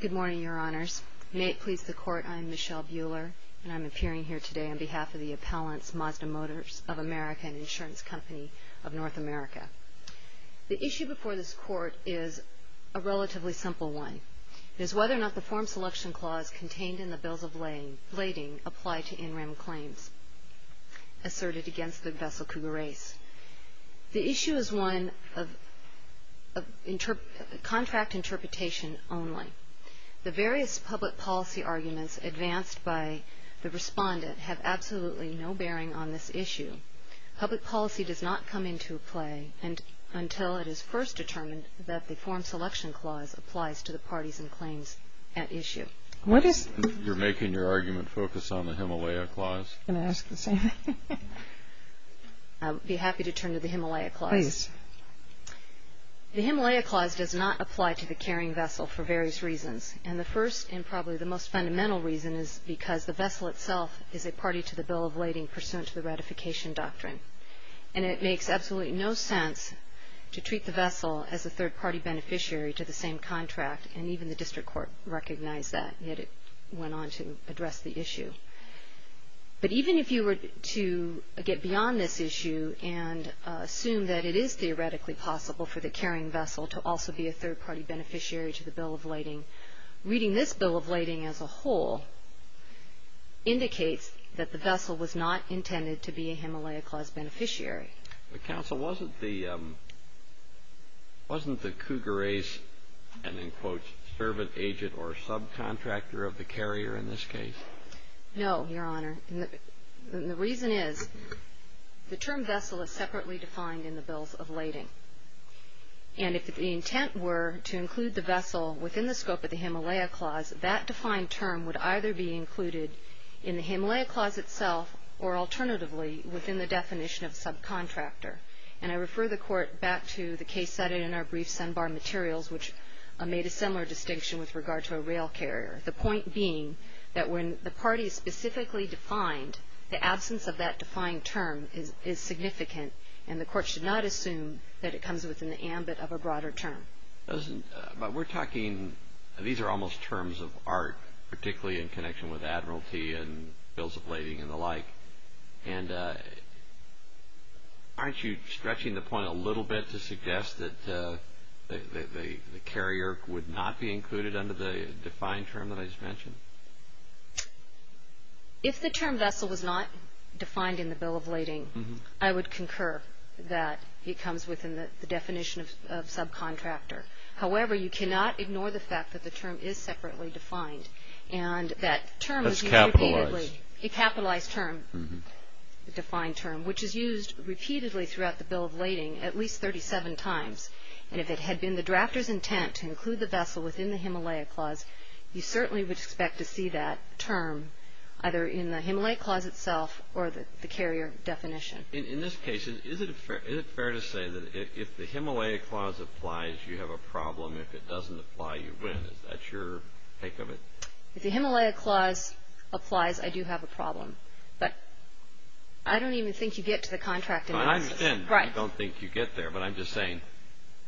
Good morning, Your Honors. May it please the Court, I am Michelle Buehler, and I am appearing here today on behalf of the Appellants Mazda Motors of America and Insurance Company of North America. The issue before this Court is a relatively simple one. It is whether or not the form selection clause contained in the Bills of Lading apply to in-rim claims asserted against the vessel Cougar Ace. The issue is one of contract interpretation only. The various public policy arguments advanced by the Respondent have absolutely no bearing on this issue. Public policy does not come into play until it is first determined that the form selection clause applies to the parties and claims at issue. You're making your argument focus on the Himalaya Clause? I would be happy to turn to the Himalaya Clause. The Himalaya Clause does not apply to the carrying vessel for various reasons. And the first and probably the most fundamental reason is because the vessel itself is a party to the Bill of Lading pursuant to the ratification doctrine. And it makes absolutely no sense to treat the vessel as a third-party beneficiary to the same contract, and even the District Court recognized that, yet it went on to address the issue. But even if you were to get beyond this issue and assume that it is theoretically possible for the carrying vessel to also be a third-party beneficiary to the Bill of Lading, reading this Bill of Lading as a whole indicates that the vessel was not intended to be a Himalaya Clause beneficiary. But, Counsel, wasn't the Cougar Ace an, in quotes, servant, agent, or subcontractor of the carrier in this case? No, Your Honor. The reason is the term vessel is separately defined in the Bills of Lading. And if the intent were to include the vessel within the scope of the Himalaya Clause, that defined term would either be included in the Himalaya Clause itself or alternatively within the definition of subcontractor. And I refer the Court back to the case cited in our brief, Sun Bar Materials, which made a similar distinction with regard to a rail carrier. The point being that when the party is specifically defined, the absence of that defined term is significant. And the Court should not assume that it comes within the ambit of a broader term. But we're talking, these are almost terms of art, particularly in connection with Admiralty and Bills of Lading and the like. And aren't you stretching the point a little bit to suggest that the carrier would not be included under the defined term that I just mentioned? If the term vessel was not defined in the Bill of Lading, I would concur that it comes within the definition of subcontractor. However, you cannot ignore the fact that the term is separately defined. And that term is a capitalized term, a defined term, which is used repeatedly throughout the Bill of Lading at least 37 times. And if it had been the drafter's intent to include the vessel within the Himalaya Clause, you certainly would expect to see that term either in the Himalaya Clause itself or the carrier definition. In this case, is it fair to say that if the Himalaya Clause applies, you have a problem? If it doesn't apply, you win? Is that your take of it? If the Himalaya Clause applies, I do have a problem. But I don't even think you get to the contract analysis. I don't think you get there. But I'm just saying,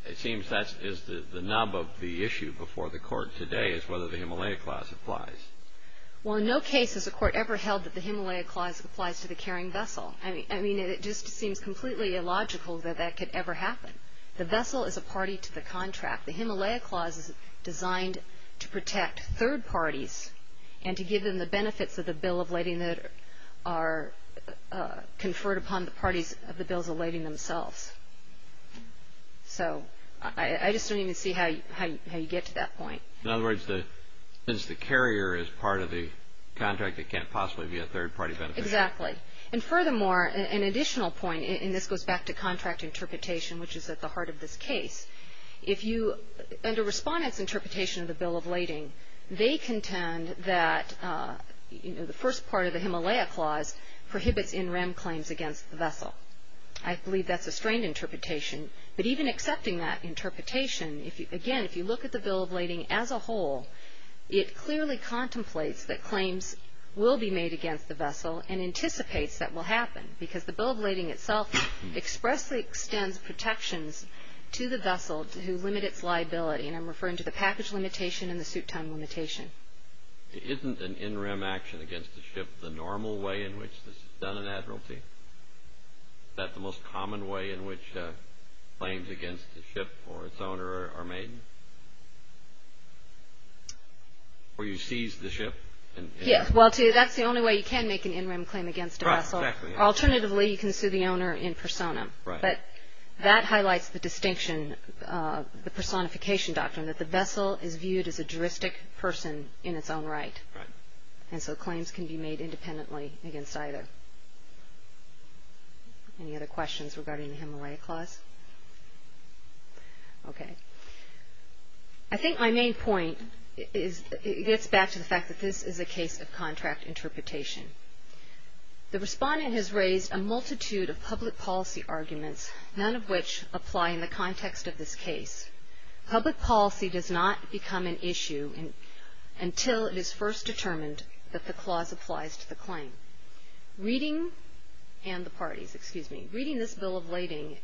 it seems that is the knob of the issue before the Court today is whether the Himalaya Clause applies. Well, in no case has the Court ever held that the Himalaya Clause applies to the carrying vessel. I mean, it just seems completely illogical that that could ever happen. The vessel is a party to the contract. The Himalaya Clause is designed to protect third parties and to give them the benefits of the Bill of Lading that are conferred upon the parties of the Bills of Lading themselves. So I just don't even see how you get to that point. In other words, since the carrier is part of the contract, it can't possibly be a third-party benefit. Exactly. And furthermore, an additional point, and this goes back to contract interpretation, which is at the heart of this case. Under Respondent's interpretation of the Bill of Lading, they contend that the first part of the Himalaya Clause prohibits in-rem claims against the vessel. I believe that's a strained interpretation. But even accepting that interpretation, again, if you look at the Bill of Lading as a whole, it clearly contemplates that claims will be made against the vessel and anticipates that will happen because the Bill of Lading itself expressly extends protections to the vessel to limit its liability. And I'm referring to the package limitation and the suit time limitation. Isn't an in-rem action against the ship the normal way in which this is done in admiralty? Is that the most common way in which claims against the ship or its owner are made? Where you seize the ship? Yes, well, that's the only way you can make an in-rem claim against a vessel. Right, exactly. Alternatively, you can sue the owner in persona. Right. But that highlights the distinction, the personification doctrine, that the vessel is viewed as a juristic person in its own right. Right. And so claims can be made independently against either. Any other questions regarding the Himalaya Clause? Okay. I think my main point is it gets back to the fact that this is a case of contract interpretation. The respondent has raised a multitude of public policy arguments, none of which apply in the context of this case. Public policy does not become an issue until it is first determined that the clause applies to the claim. Reading, and the parties, excuse me, reading this bill of lading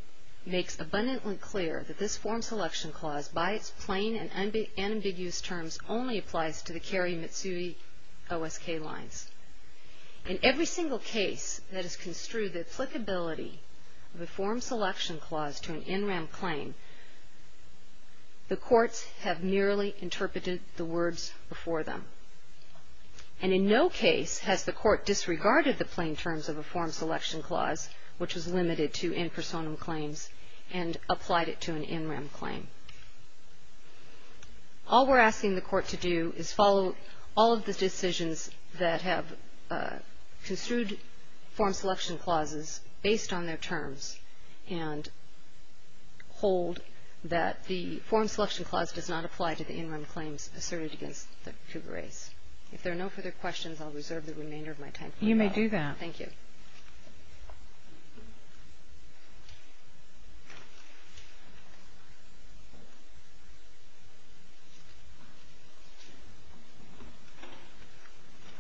makes abundantly clear that this form selection clause, by its plain and ambiguous terms, only applies to the Carrie Mitsui OSK lines. In every single case that is construed, the applicability of a form selection clause to an NRAM claim, the courts have merely interpreted the words before them. And in no case has the court disregarded the plain terms of a form selection clause, which is limited to in personam claims, and applied it to an NRAM claim. All we're asking the court to do is follow all of the decisions that have construed form selection clauses based on their terms and hold that the form selection clause does not apply to the NRAM claims asserted against the Cougar race. If there are no further questions, I'll reserve the remainder of my time. You may do that. Thank you.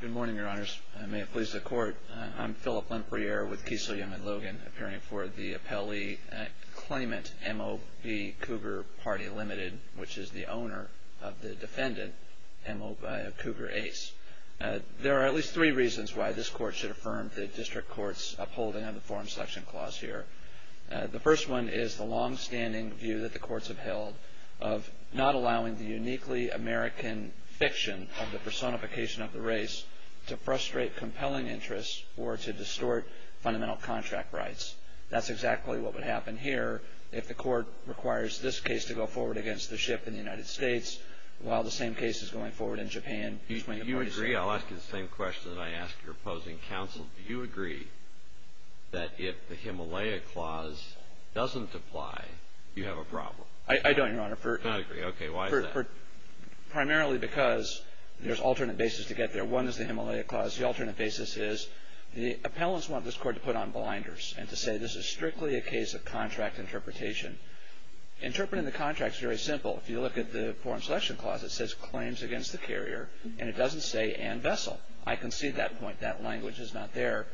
Good morning, your honors. May it please the court. I'm Philip Lempereer with Kiesel, Young & Logan, appearing for the appellee claimant, M.O.B. Cougar Party Limited, which is the owner of the defendant, M.O.B. Cougar Ace. There are at least three reasons why this court should affirm the district court's upholding of the form selection clause here. The first one is the longstanding view that the courts have held of not allowing the uniquely American fiction of the personification of the race to frustrate compelling interests or to distort fundamental contract rights. That's exactly what would happen here if the court requires this case to go forward against the ship in the United States while the same case is going forward in Japan. Do you agree? I'll ask you the same question that I asked your opposing counsel. Do you agree that if the Himalaya clause doesn't apply, you have a problem? I don't, Your Honor. I don't agree. Okay. Why is that? Primarily because there's alternate basis to get there. One is the Himalaya clause. The alternate basis is the appellants want this court to put on blinders and to say this is strictly a case of contract interpretation. Interpreting the contract is very simple. If you look at the form selection clause, it says claims against the carrier, and it doesn't say and vessel. I concede that point. That language is not there.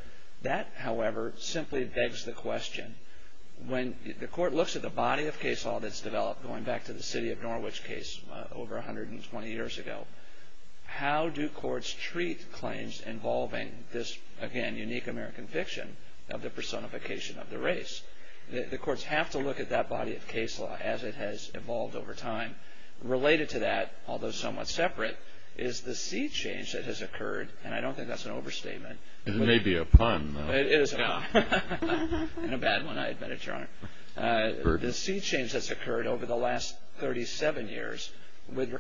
That, however, simply begs the question. When the court looks at the body of case law that's developed, going back to the City of Norwich case over 120 years ago, how do courts treat claims involving this, again, unique American fiction of the personification of the race? The courts have to look at that body of case law as it has evolved over time. Related to that, although somewhat separate, is the sea change that has occurred, and I don't think that's an overstatement. It may be a pun, though. It is a pun, and a bad one, I admit it, Your Honor. The sea change that's occurred over the last 37 years with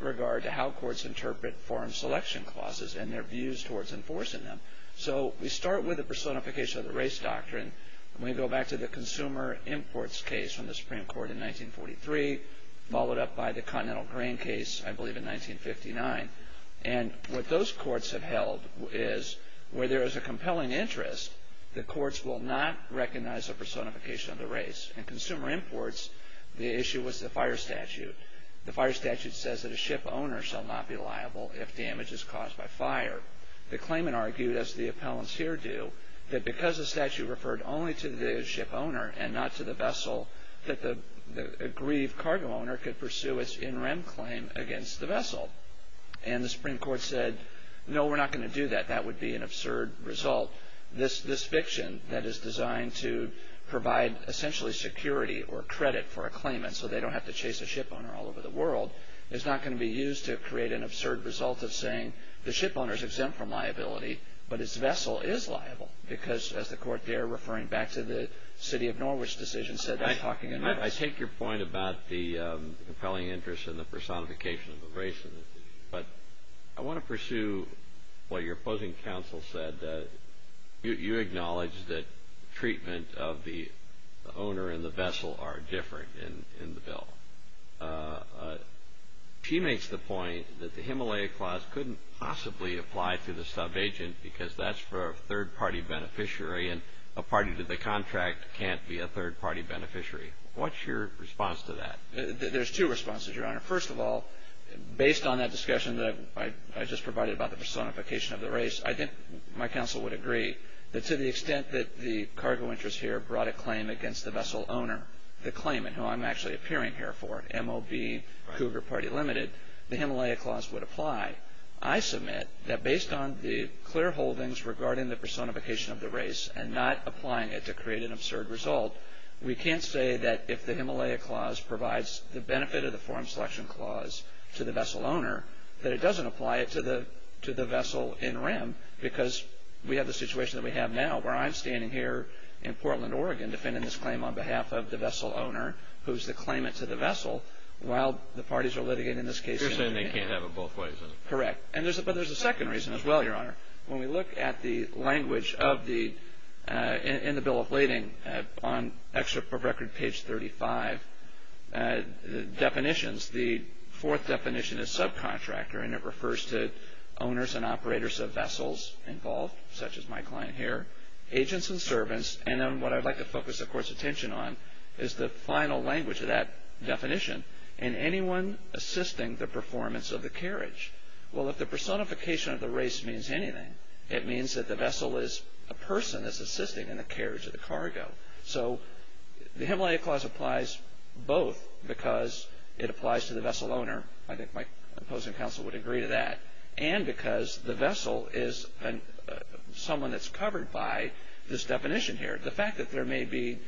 regard to how courts interpret form selection clauses and their views towards enforcing them. So we start with the personification of the race doctrine, and we go back to the consumer imports case from the Supreme Court in 1943, followed up by the Continental Grain case, I believe, in 1959. What those courts have held is, where there is a compelling interest, the courts will not recognize the personification of the race. In consumer imports, the issue was the fire statute. The fire statute says that a ship owner shall not be liable if damage is caused by fire. The claimant argued, as the appellants here do, that because the statute referred only to the ship owner and not to the vessel, that the aggrieved cargo owner could pursue its in-rem claim against the vessel. And the Supreme Court said, no, we're not going to do that. That would be an absurd result. This fiction that is designed to provide essentially security or credit for a claimant so they don't have to chase a ship owner all over the world is not going to be used to create an absurd result of saying, because, as the court there, referring back to the City of Norwich decision, said, I'm talking about this. I take your point about the compelling interest in the personification of the race. But I want to pursue what your opposing counsel said. You acknowledged that treatment of the owner and the vessel are different in the bill. She makes the point that the Himalaya Clause couldn't possibly apply to the subagent because that's for a third-party beneficiary, and a party to the contract can't be a third-party beneficiary. What's your response to that? There's two responses, Your Honor. First of all, based on that discussion that I just provided about the personification of the race, I think my counsel would agree that to the extent that the cargo interest here brought a claim against the vessel owner, the claimant, who I'm actually appearing here for, MOB, Cougar Party Limited, the Himalaya Clause would apply. I submit that based on the clear holdings regarding the personification of the race and not applying it to create an absurd result, we can't say that if the Himalaya Clause provides the benefit of the Forum Selection Clause to the vessel owner, that it doesn't apply it to the vessel in rem because we have the situation that we have now, where I'm standing here in Portland, Oregon, defending this claim on behalf of the vessel owner, who's the claimant to the vessel, while the parties are litigating this case. You're saying they can't have it both ways. Correct. But there's a second reason as well, Your Honor. When we look at the language in the Bill of Lading, on record page 35, definitions, the fourth definition is subcontractor, and it refers to owners and operators of vessels involved, such as my client here, agents and servants, and then what I'd like to focus the Court's attention on is the final language of that definition. And anyone assisting the performance of the carriage. Well, if the personification of the race means anything, it means that the vessel is a person that's assisting in the carriage of the cargo. So the Himalaya Clause applies both because it applies to the vessel owner, I think my opposing counsel would agree to that, and because the vessel is someone that's covered by this definition here. The fact that the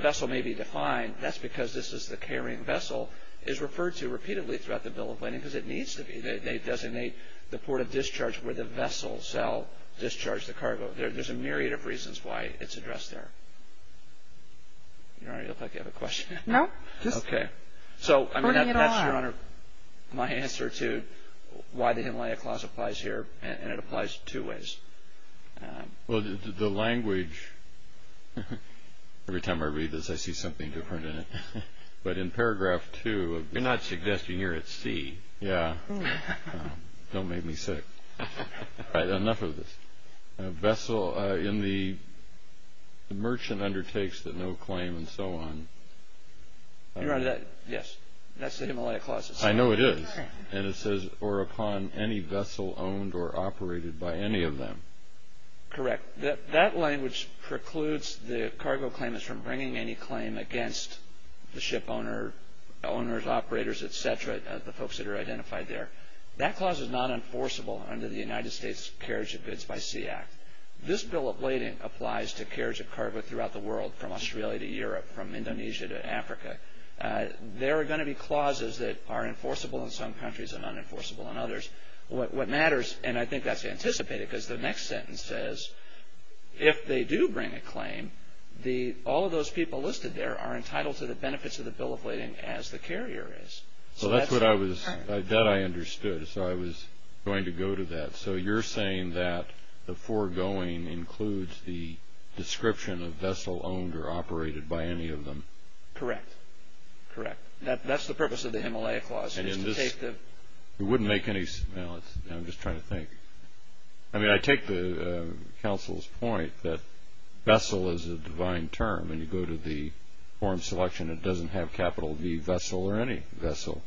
vessel may be defined, that's because this is the carrying vessel, is referred to repeatedly throughout the Bill of Lading because it needs to be. They designate the port of discharge where the vessel shall discharge the cargo. There's a myriad of reasons why it's addressed there. Your Honor, you look like you have a question. No. Okay. So that's, Your Honor, my answer to why the Himalaya Clause applies here, and it applies two ways. Well, the language... Every time I read this, I see something different in it. But in paragraph two... You're not suggesting you're at sea. Yeah. Don't make me sick. All right, enough of this. Vessel in the merchant undertakes that no claim and so on. Your Honor, that, yes, that's the Himalaya Clause itself. I know it is. And it says, or upon any vessel owned or operated by any of them. Correct. That language precludes the cargo claimants from bringing any claim against the ship owner, owners, operators, et cetera, the folks that are identified there. That clause is not enforceable under the United States Carriage of Goods by Sea Act. This Bill of Lading applies to carriage of cargo throughout the world, from Australia to Europe, from Indonesia to Africa. There are going to be clauses that are enforceable in some countries and unenforceable in others. What matters, and I think that's anticipated because the next sentence says, if they do bring a claim, all of those people listed there are entitled to the benefits of the Bill of Lading as the carrier is. So that's what I was... That I understood. So I was going to go to that. So you're saying that the foregoing includes the description of vessel owned or operated by any of them. Correct. Correct. That's the purpose of the Himalaya Clause, is to take the... It wouldn't make any... Now, I'm just trying to think. I mean, I take the counsel's point that vessel is a divine term, and you go to the form selection, it doesn't have capital V, vessel or any vessel.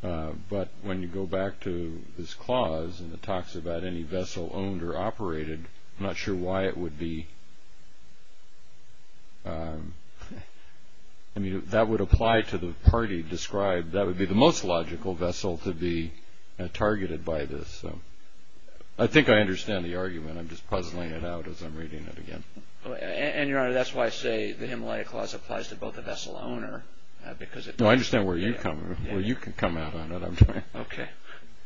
But when you go back to this clause and it talks about any vessel owned or operated, I'm not sure why it would be... I mean, that would apply to the party described. That would be the most logical vessel to be targeted by this. So I think I understand the argument. I'm just puzzling it out as I'm reading it again. And, Your Honor, that's why I say the Himalaya Clause applies to both the vessel owner because it... No, I understand where you come from, where you can come out on it. Okay.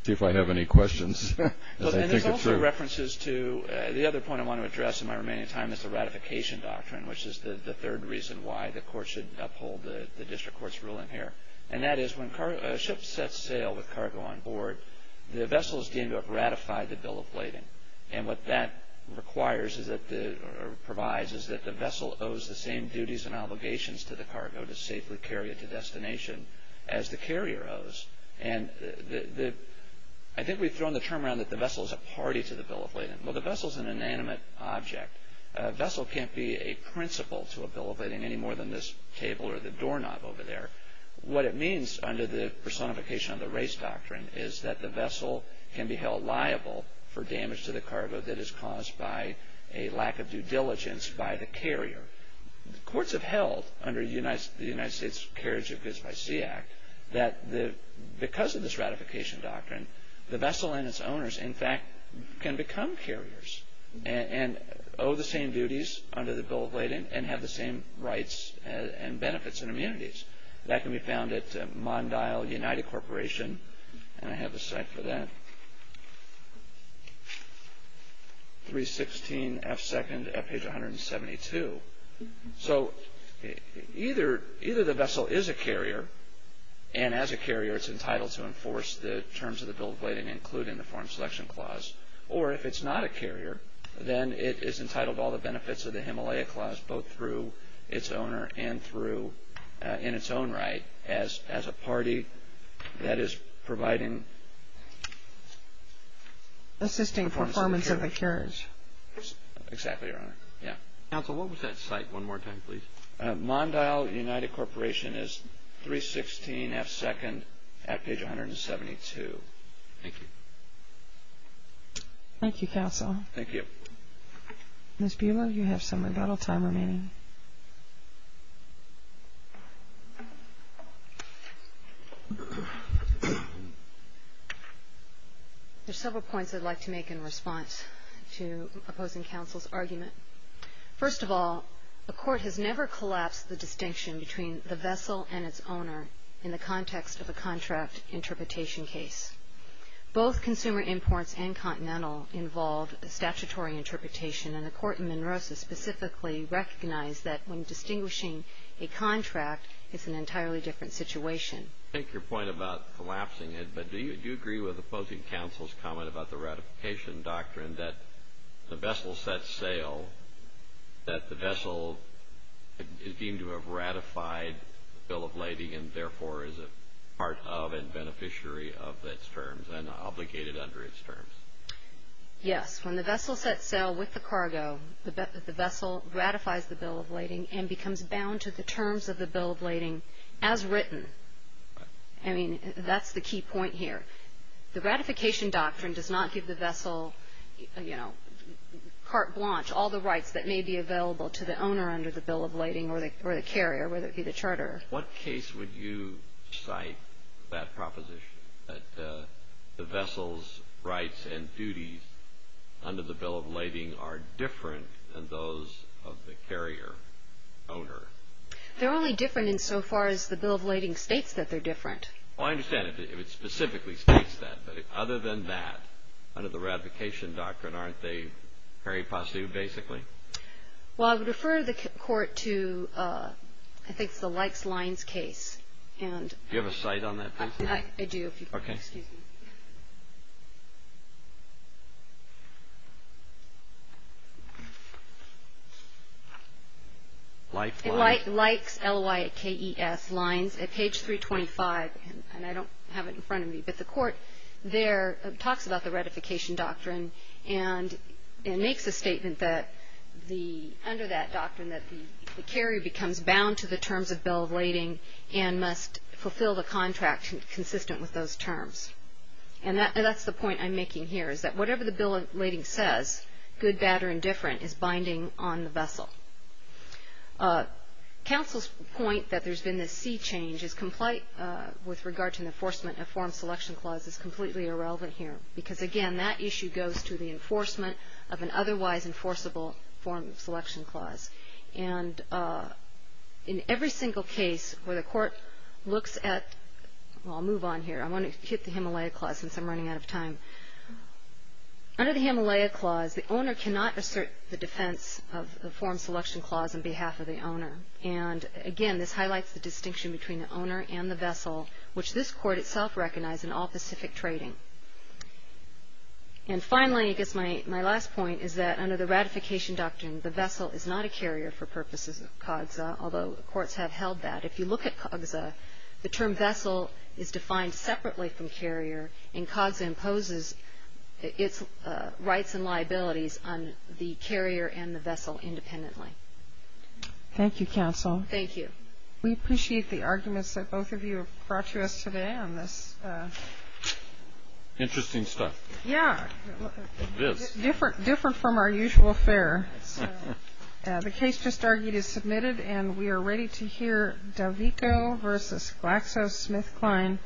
See if I have any questions as I think it through. There's also references to... The other point I want to address in my remaining time is the ratification doctrine, which is the third reason why the court should uphold the district court's ruling here. And that is when a ship sets sail with cargo on board, the vessel is deemed to have ratified the bill of lading. And what that requires or provides is that the vessel owes the same duties and obligations to the cargo to safely carry it to destination as the carrier owes. And I think we've thrown the term around that the vessel is a party to the bill of lading. Well, the vessel is an inanimate object. A vessel can't be a principal to a bill of lading any more than this table or the doorknob over there. What it means under the personification of the race doctrine is that the vessel can be held liable for damage to the cargo that is caused by a lack of due diligence by the carrier. Courts have held, under the United States Carriage of Goods by Sea Act, that because of this ratification doctrine, the vessel and its owners, in fact, can become carriers and owe the same duties under the bill of lading and have the same rights and benefits and immunities. That can be found at Mondial United Corporation, and I have a site for that. 316F2nd at page 172. So either the vessel is a carrier, and as a carrier, it's entitled to enforce the terms of the bill of lading including the Foreign Selection Clause, or if it's not a carrier, then it is entitled to all the benefits of the Himalaya Clause both through its owner and through, in its own right, as a party that is providing... Assisting performance of the carriage. Exactly, Your Honor. Counsel, what was that site one more time, please? Mondial United Corporation is 316F2nd at page 172. Thank you. Thank you, Counsel. Thank you. Ms. Buelow, you have some rebuttal time remaining. There are several points I'd like to make in response to opposing counsel's argument. First of all, the Court has never collapsed the distinction between the vessel and its owner in the context of a contract interpretation case. Both consumer imports and Continental involved a statutory interpretation, and the Court in Monroe specifically recognized that when distinguishing a contract, it's an entirely different situation. I take your point about collapsing it, but do you agree with opposing counsel's comment about the ratification doctrine that the vessel sets sail, that the vessel is deemed to have ratified the bill of lading and therefore is a part of and beneficiary of its terms and obligated under its terms? Yes. When the vessel sets sail with the cargo, the vessel ratifies the bill of lading and becomes bound to the terms of the bill of lading as written. I mean, that's the key point here. The ratification doctrine does not give the vessel, you know, carte blanche all the rights that may be available to the owner under the bill of lading or the carrier, whether it be the charter. What case would you cite that proposition, that the vessel's rights and duties under the bill of lading are different than those of the carrier owner? They're only different insofar as the bill of lading states that they're different. Oh, I understand if it specifically states that, but other than that, under the ratification doctrine, aren't they very positive basically? Well, I would refer the Court to, I think it's the Likes Lines case. Do you have a cite on that, please? I do. Okay. Likes Lines. Likes, L-Y-K-E-S, Lines at page 325, and I don't have it in front of me, but the Court there talks about the ratification doctrine and makes a statement under that doctrine that the carrier becomes bound to the terms of bill of lading and must fulfill the contract consistent with those terms. And that's the point I'm making here, is that whatever the bill of lading says, good, bad, or indifferent, is binding on the vessel. Counsel's point that there's been this sea change with regard to the enforcement of form selection clause is completely irrelevant here because, again, that issue goes to the enforcement of an otherwise enforceable form selection clause. And in every single case where the Court looks at, well, I'll move on here. I want to keep the Himalaya Clause since I'm running out of time. Under the Himalaya Clause, the owner cannot assert the defense of the form selection clause on behalf of the owner. And, again, this highlights the distinction between the owner and the vessel, which this Court itself recognized in all Pacific trading. And finally, I guess my last point is that under the ratification doctrine, the vessel is not a carrier for purposes of CAWGSA, although courts have held that. If you look at CAWGSA, the term vessel is defined separately from carrier, and CAWGSA imposes its rights and liabilities on the carrier and the vessel independently. Thank you, Counsel. Thank you. We appreciate the arguments that both of you have brought to us today on this. Interesting stuff. Yeah. Different from our usual fare. The case just argued is submitted, and we are ready to hear D'Avico v. GlaxoSmithKline Pharmaceuticals.